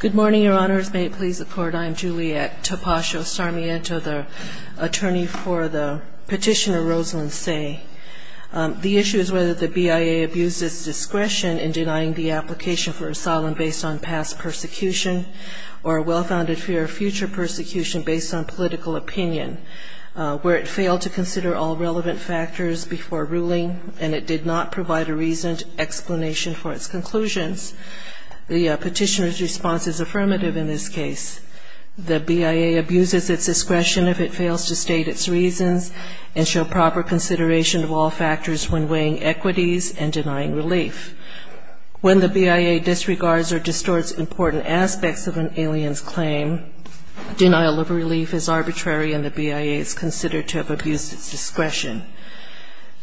Good morning, Your Honors. May it please the Court, I am Juliet Topasio-Sarmiento, the attorney for the petitioner Rosalyn Tse. The issue is whether the BIA abused its discretion in denying the application for asylum based on past persecution or a well-founded fear of future persecution based on political opinion, where it failed to consider all relevant factors before ruling and it did not provide a reasoned explanation for its conclusions. The petitioner's response is affirmative in this case. The BIA abuses its discretion if it fails to state its reasons and show proper consideration of all factors when weighing equities and denying relief. When the BIA disregards or distorts important aspects of an alien's claim, denial of relief is arbitrary and the BIA is considered to have abused its discretion.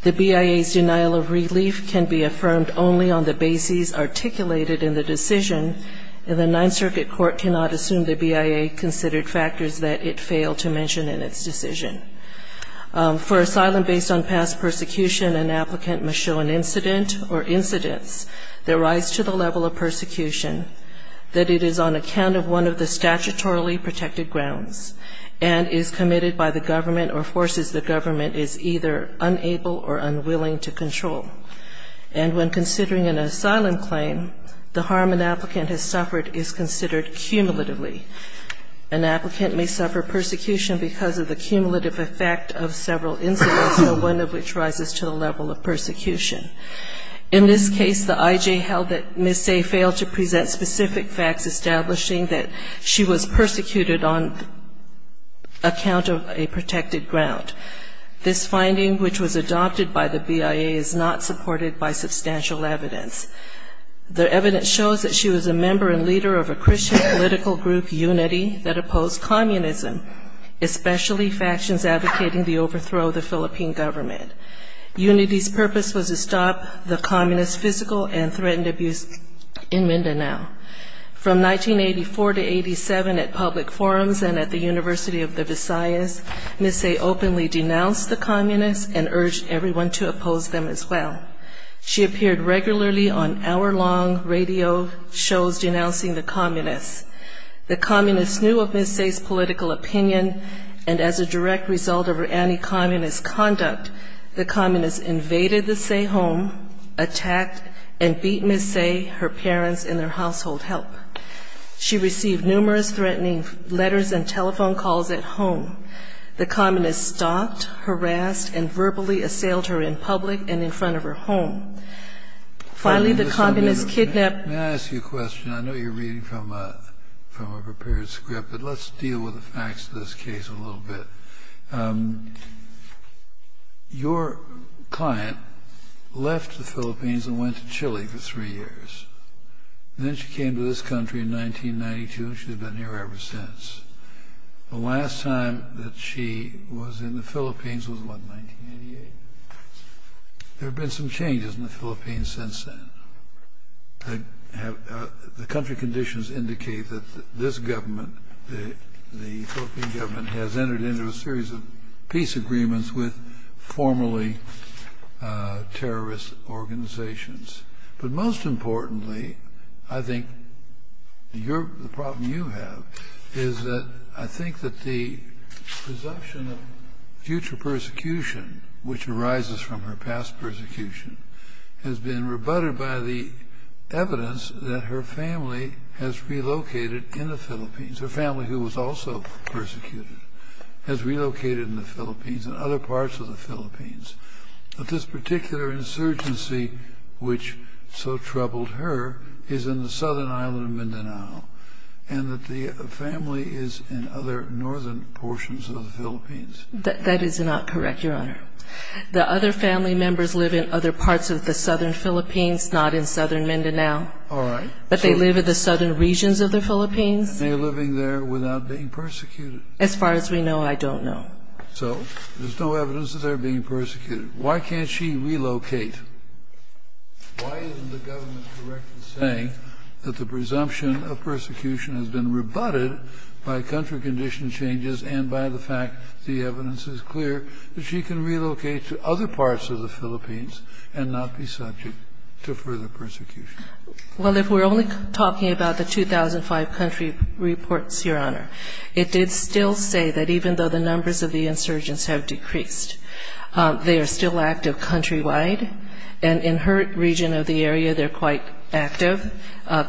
The BIA's denial of relief can be affirmed only on the basis articulated in the decision and the Ninth Circuit Court cannot assume the BIA considered factors that it failed to mention in its decision. For asylum based on past persecution, an applicant must show an incident or incidents that rise to the level of persecution, that it is on account of one of the statutorily protected grounds and is committed by the government or forces the government is either unable or unwilling to control. And when considering an asylum claim, the harm an applicant has suffered is considered cumulatively. An applicant may suffer persecution because of the cumulative effect of several incidents, one of which rises to the level of persecution. In this case, the IJ held that Ms. Say failed to present specific facts establishing that she was persecuted on account of a protected ground. This finding, which was adopted by the BIA, is not supported by substantial evidence. The evidence shows that she was a member and leader of a Christian political group, Unity, that opposed communism, especially factions advocating the overthrow of the Philippine government. Unity's purpose was to stop the communist physical and threatened abuse in Mindanao. From 1984 to 87 at public forums and at the University of the Visayas, Ms. Say openly denounced the communists and urged everyone to oppose them as well. She appeared regularly on hour-long radio shows denouncing the communists. The communists knew of Ms. Say's political opinion, and as a direct result of her anti-communist conduct, the communists invaded the Say home, attacked, and beat Ms. Say, her parents, and their household help. She received numerous threatening letters and telephone calls at home. The communists stalked, harassed, and verbally assailed her in public and in front of her home. Finally, the communists kidnapped her. Kennedy, may I ask you a question? I know you're reading from a prepared script, but let's deal with the facts of this case a little bit. Your client left the Philippines and went to Chile for three years. Then she came to this country in 1992, and she's been here ever since. The last time that she was in the Philippines was, what, 1988? There have been some changes in the Philippines since then. The country conditions indicate that this government, the Philippine government, has entered into a series of peace agreements with formerly terrorist organizations. But most importantly, I think the problem you have is that I think that the presumption of future persecution, which arises from her past persecution, has been rebutted by the evidence that her family has relocated in the Philippines. Her family, who was also persecuted, has relocated in the Philippines and other parts of the Philippines. But this particular insurgency, which so troubled her, is in the southern island of Mindanao, and that the family is in other northern portions of the Philippines. That is not correct, Your Honor. The other family members live in other parts of the southern Philippines, not in southern Mindanao. All right. But they live in the southern regions of the Philippines. And they're living there without being persecuted. As far as we know, I don't know. So there's no evidence that they're being persecuted. Why can't she relocate? Why isn't the government correctly saying that the presumption of persecution has been rebutted by country condition changes and by the fact that the evidence is clear that she can relocate to other parts of the Philippines and not be subject to further persecution? Well, if we're only talking about the 2005 country reports, Your Honor, it did still say that even though the numbers of the insurgents have decreased, they are still active countrywide. And in her region of the area, they're quite active.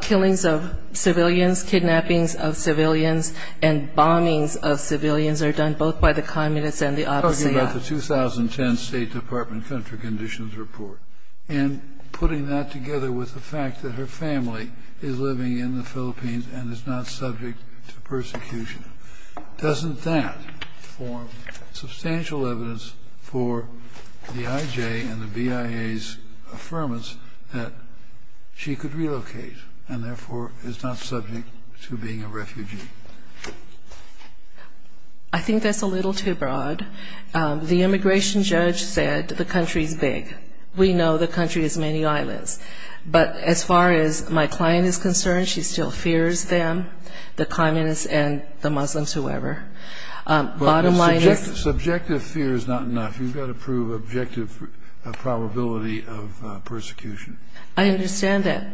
Killings of civilians, kidnappings of civilians, and bombings of civilians are done both by the communists and the opposite. Talking about the 2010 State Department country conditions report and putting that together with the fact that her family is living in the Philippines and is not subject to persecution, doesn't that form substantial evidence for the IJ and the BIA's affirmance that she could relocate and, therefore, is not subject to being a refugee? I think that's a little too broad. The immigration judge said the country is big. We know the country has many islands. But as far as my client is concerned, she still fears them, the communists and the Muslims, whoever. Bottom line is the subjective fear is not enough. You've got to prove objective probability of persecution. I understand that.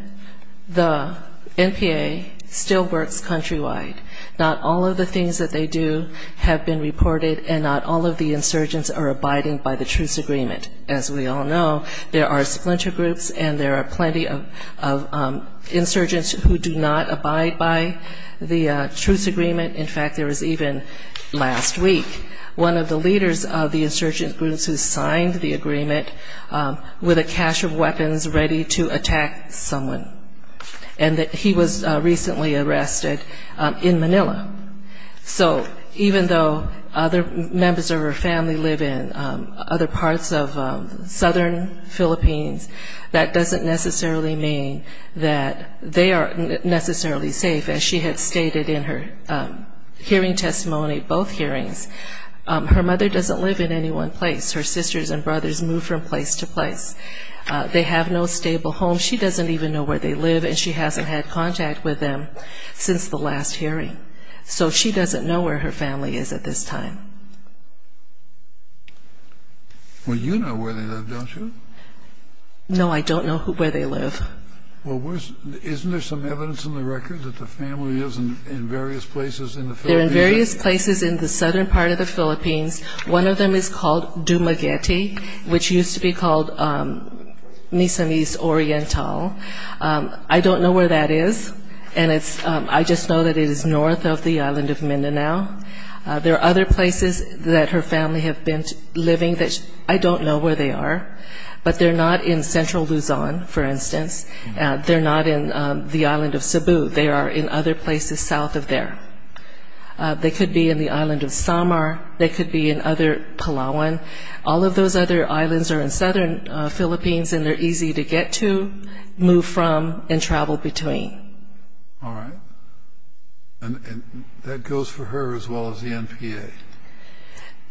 The NPA still works countrywide. Not all of the things that they do have been reported and not all of the insurgents are abiding by the truce agreement. As we all know, there are splinter groups and there are plenty of insurgents who do not abide by the truce agreement. In fact, there was even, last week, one of the leaders of the insurgent groups who signed the agreement with a cache of weapons ready to attack someone. And he was recently arrested in Manila. So even though other members of her family live in other parts of southern Philippines, that doesn't necessarily mean that they are necessarily safe. As she had stated in her hearing testimony, both hearings, her mother doesn't live in any one place. Her sisters and brothers move from place to place. They have no stable home. She doesn't even know where they live and she hasn't had contact with them since the last hearing. So she doesn't know where her family is at this time. Well, you know where they live, don't you? No, I don't know where they live. Well, isn't there some evidence in the record that the family lives in various places in the Philippines? They're in various places in the southern part of the Philippines. One of them is called Dumaguete, which used to be called Nisanese Oriental. I don't know where that is, and I just know that it is north of the island of Mindanao. There are other places that her family have been living that I don't know where they are, but they're not in central Luzon, for instance. They're not in the island of Cebu. They are in other places south of there. They could be in the island of Samar. They could be in other Palawan. All of those other islands are in southern Philippines and they're easy to get to, move from, and travel between. All right. And that goes for her as well as the NPA?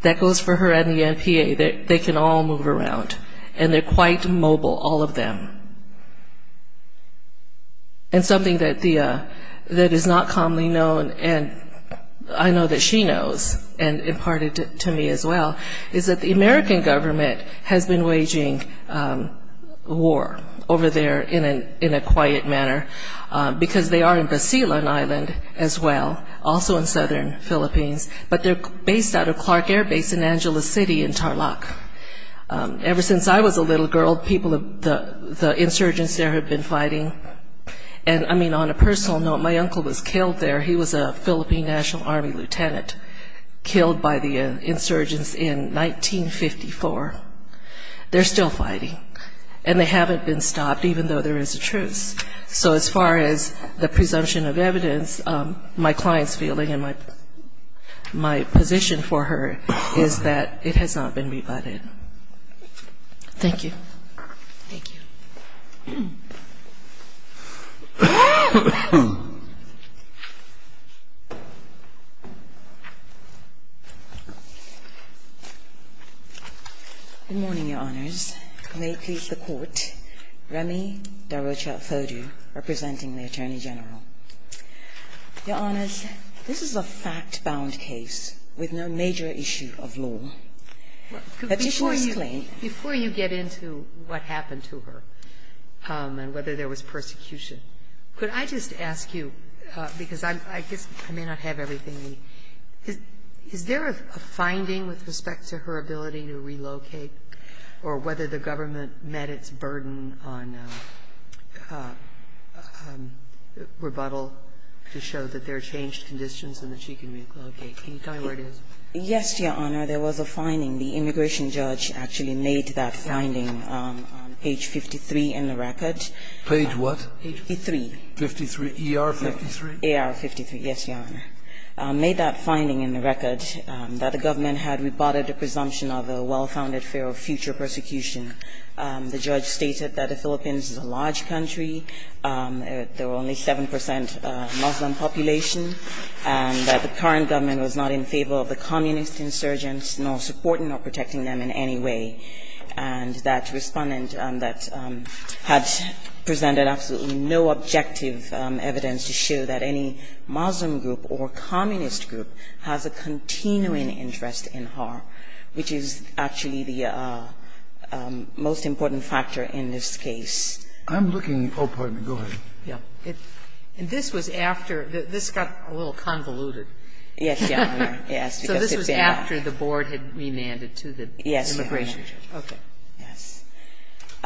That goes for her and the NPA. They can all move around, and they're quite mobile, all of them. And something that is not commonly known, and I know that she knows and imparted to me as well, is that the American government has been waging war over there in a quiet manner because they are in Basilan Island as well, also in southern Philippines, but they're based out of Clark Air Base in Angeles City in Tarlac. Ever since I was a little girl, the insurgents there have been fighting. And, I mean, on a personal note, my uncle was killed there. He was a Philippine National Army lieutenant killed by the insurgents in 1954. They're still fighting, and they haven't been stopped, even though there is a truce. So as far as the presumption of evidence, my client's feeling and my position for her is that it has not been rebutted. Thank you. Thank you. Good morning, Your Honors. May it please the Court. Remy Darocha-Fodu, representing the Attorney General. Your Honors, this is a fact-bound case with no major issue of law. But before you claim to me. Before you get into what happened to her and whether there was persecution, could I just ask you, because I guess I may not have everything, is there a finding with respect to her ability to relocate or whether the government met its burden on rebuttal to show that there are changed conditions and that she can relocate? Can you tell me where it is? Yes, Your Honor. There was a finding. The immigration judge actually made that finding on page 53 in the record. Page what? 53. 53. ER 53? AR 53. Yes, Your Honor. Made that finding in the record that the government had rebutted a presumption of a well-founded fear of future persecution. The judge stated that the Philippines is a large country. There were only 7 percent Muslim population and that the current government was not in favor of the communist insurgents nor supporting or protecting them in any way. And that respondent that had presented absolutely no objective evidence to show that any Muslim group or communist group has a continuing interest in her, which is actually the most important factor in this case. I'm looking. Oh, pardon me. Go ahead. Yeah. And this was after. This got a little convoluted. Yes, Your Honor. So this was after the board had remanded to the immigration judge. Yes, Your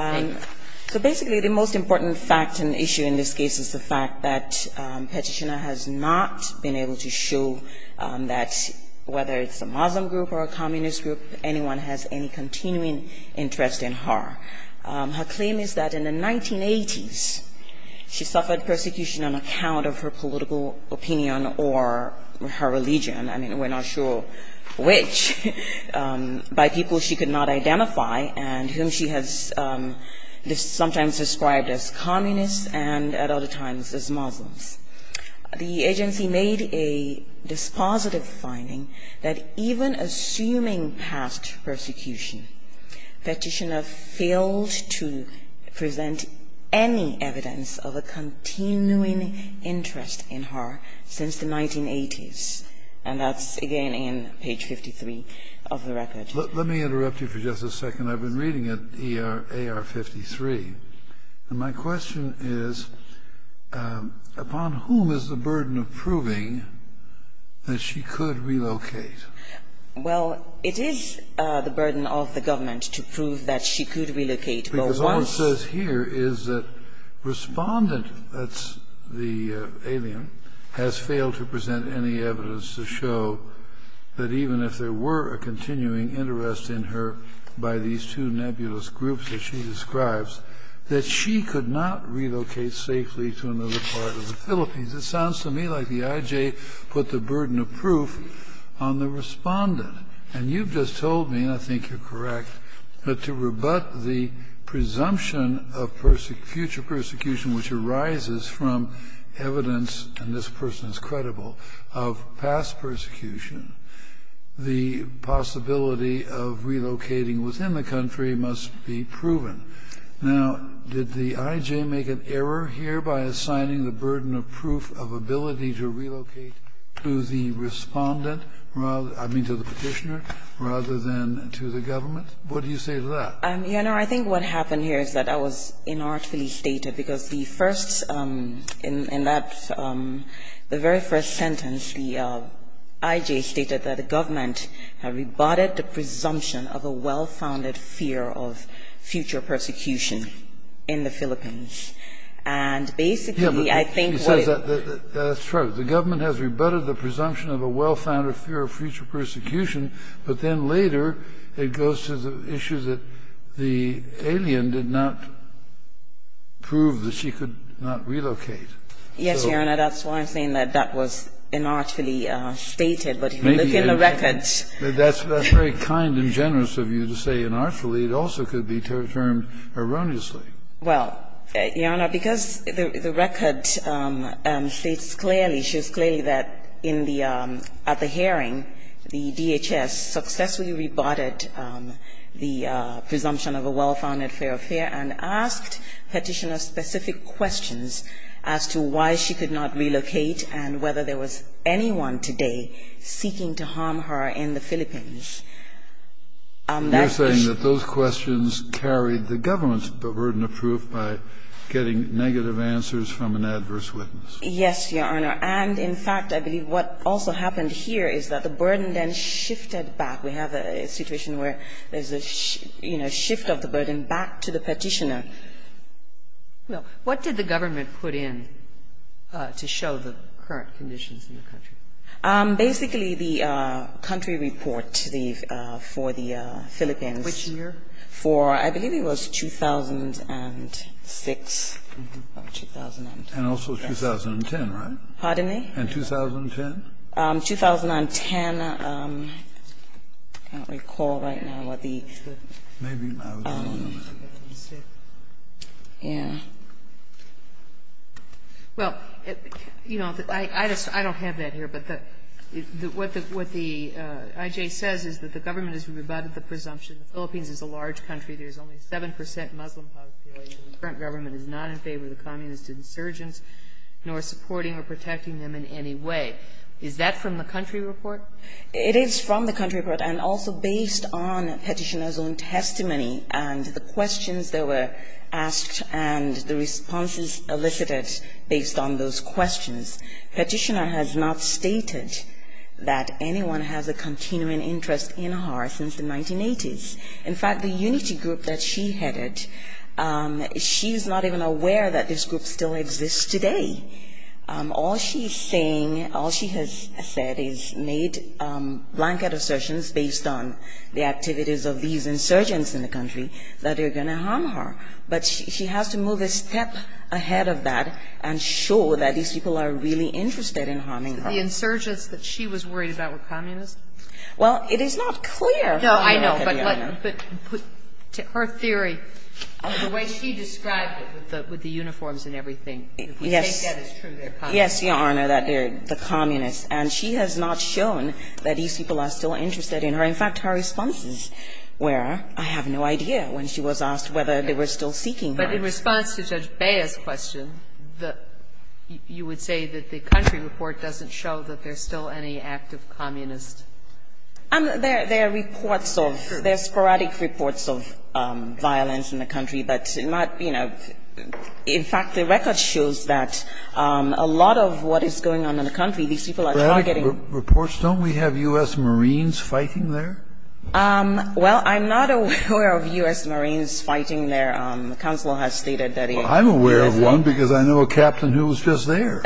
Honor. Okay. Yes. So basically the most important fact and issue in this case is the fact that Petitina has not been able to show that whether it's a Muslim group or a communist group, anyone has any continuing interest in her. Her claim is that in the 1980s, she suffered persecution on account of her political opinion or her religion. I mean, we're not sure which, by people she could not identify and whom she has sometimes described as communists and at other times as Muslims. The agency made a dispositive finding that even assuming past persecution, Petitina failed to present any evidence of a continuing interest in her since the 1980s. And that's, again, in page 53 of the record. Let me interrupt you for just a second. I've been reading it, AR 53. And my question is, upon whom is the burden of proving that she could relocate? Well, it is the burden of the government to prove that she could relocate. Because all it says here is that Respondent, that's the alien, has failed to present any evidence to show that even if there were a continuing interest in her by these two nebulous groups that she describes, that she could not relocate safely to another part of the Philippines. It sounds to me like the IJ put the burden of proof on the Respondent. And you've just told me, and I think you're correct, that to rebut the presumption of future persecution which arises from evidence, and this person is credible, of past persecution, the possibility of relocating within the country must be proven. Now, did the IJ make an error here by assigning the burden of proof of ability to relocate to the Respondent, I mean to the Petitioner, rather than to the government? What do you say to that? Your Honor, I think what happened here is that I was inartfully stated. Because the first – in that – the very first sentence, the IJ stated that the government had rebutted the presumption of a well-founded fear of future persecution in the Philippines. And basically, I think what it – That's true. The government has rebutted the presumption of a well-founded fear of future persecution. But then later, it goes to the issue that the alien did not prove that she could not relocate. Yes, Your Honor. That's why I'm saying that that was inartfully stated. But if you look in the records – That's very kind and generous of you to say inartfully. It also could be termed erroneously. Well, Your Honor, because the record states clearly – shows clearly that in the – at the hearing, the DHS successfully rebutted the presumption of a well-founded fear of fear and asked Petitioner specific questions as to why she could not relocate and whether there was anyone today seeking to harm her in the Philippines. You're saying that those questions carried the government's burden of proof by getting negative answers from an adverse witness. Yes, Your Honor. And in fact, I believe what also happened here is that the burden then shifted back. We have a situation where there's a, you know, shift of the burden back to the Petitioner. Well, what did the government put in to show the current conditions in the country? Basically, the country report to the – for the Philippines. Which year? For – I believe it was 2006. And also 2010, right? Pardon me? And 2010? 2010. I can't recall right now what the – Maybe I was wrong on that. Yeah. Well, you know, I don't have that here. But what the IJ says is that the government has rebutted the presumption the Philippines is a large country. There's only 7 percent Muslim population. The current government is not in favor of the communist insurgents nor supporting or protecting them in any way. Is that from the country report? It is from the country report and also based on Petitioner's own testimony and the questions that were asked and the responses elicited based on those questions. Petitioner has not stated that anyone has a continuing interest in her since the 1980s. In fact, the unity group that she headed, she's not even aware that this group still exists today. All she's saying, all she has said is made blanket assertions based on the activities of these insurgents in the country that they're going to harm her. But she has to move a step ahead of that and show that these people are really interested in harming her. The insurgents that she was worried about were communists? Well, it is not clear. No, I know. But her theory, the way she described it with the uniforms and everything, if we take that as true, they're communists. Yes, Your Honor, that they're the communists. And she has not shown that these people are still interested in her. In fact, her responses were, I have no idea, when she was asked whether they were still seeking her. But in response to Judge Beyer's question, you would say that the country report doesn't show that there's still any active communist? There are reports of, there are sporadic reports of violence in the country, but not, you know, in fact, the record shows that a lot of what is going on in the country, these people are targeting. Reports, don't we have U.S. Marines fighting there? Well, I'm not aware of U.S. Marines fighting there. Counselor has stated that. Well, I'm aware of one because I know a captain who was just there.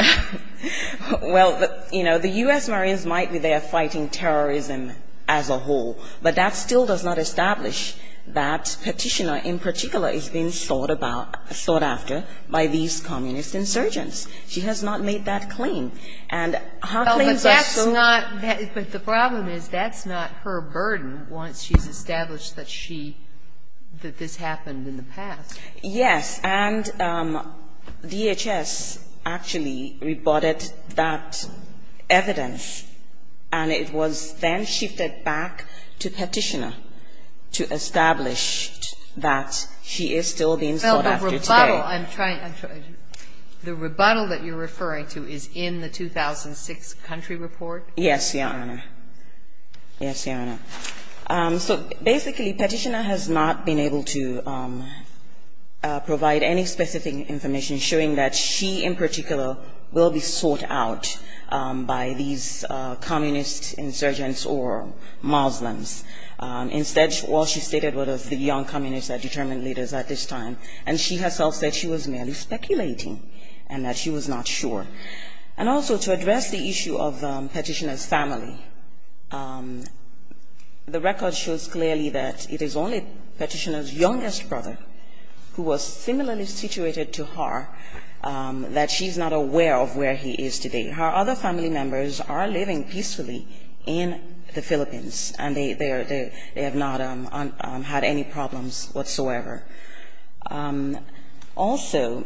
Well, you know, the U.S. Marines might be there fighting terrorism as a whole, but that still does not establish that petitioner in particular is being thought about, thought after by these communist insurgents. She has not made that claim. And her claims are so. But that's not, but the problem is that's not her burden once she's established that she, that this happened in the past. Yes. And DHS actually reported that evidence, and it was then shifted back to Petitioner to establish that she is still being thought after today. The rebuttal that you're referring to is in the 2006 country report? Yes, Your Honor. Yes, Your Honor. So basically, Petitioner has not been able to provide any specific information showing that she in particular will be sought out by these communist insurgents or Muslims. Instead, well, she stated it was the young communists that determined leaders at this time. And she herself said she was merely speculating and that she was not sure. And also, to address the issue of Petitioner's family, the record shows clearly that it is only Petitioner's youngest brother, who was similarly situated to her, that she's not aware of where he is today. Her other family members are living peacefully in the Philippines, and they have not had any problems whatsoever. Also,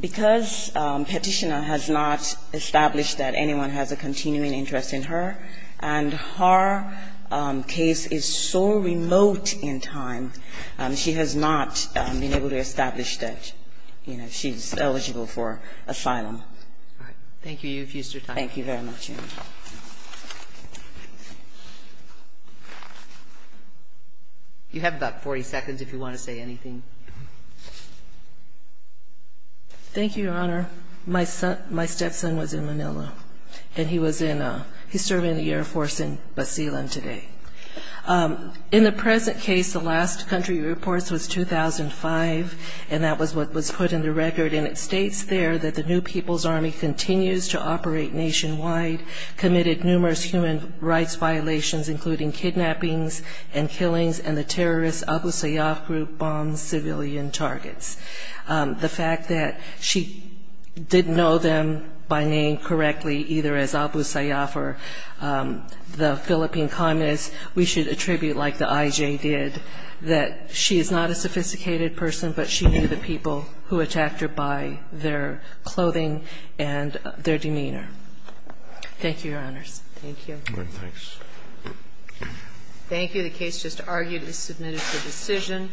because Petitioner has not established that anyone has a continuing interest in her, and her case is so remote in time, she has not been able to establish that, you know, she's eligible for asylum. Thank you. You have used your time. Thank you very much, Your Honor. You have about 40 seconds if you want to say anything. Thank you, Your Honor. My stepson was in Manila, and he's serving in the Air Force in Basilan today. In the present case, the last country reports was 2005, and that was what was put in the record. And it states there that the New People's Army continues to operate nationwide, committed numerous human rights violations, including kidnappings and killings, and the terrorist Abu Sayyaf Group bombs civilian targets. The fact that she didn't know them by name correctly, either as Abu Sayyaf or the Philippine communists, we should attribute like the IJ did, that she is not a sophisticated person, but she knew the people who attacked her by their clothing and their demeanor. Thank you, Your Honors. Thank you. Thanks. Thank you. The case just argued and submitted for decision.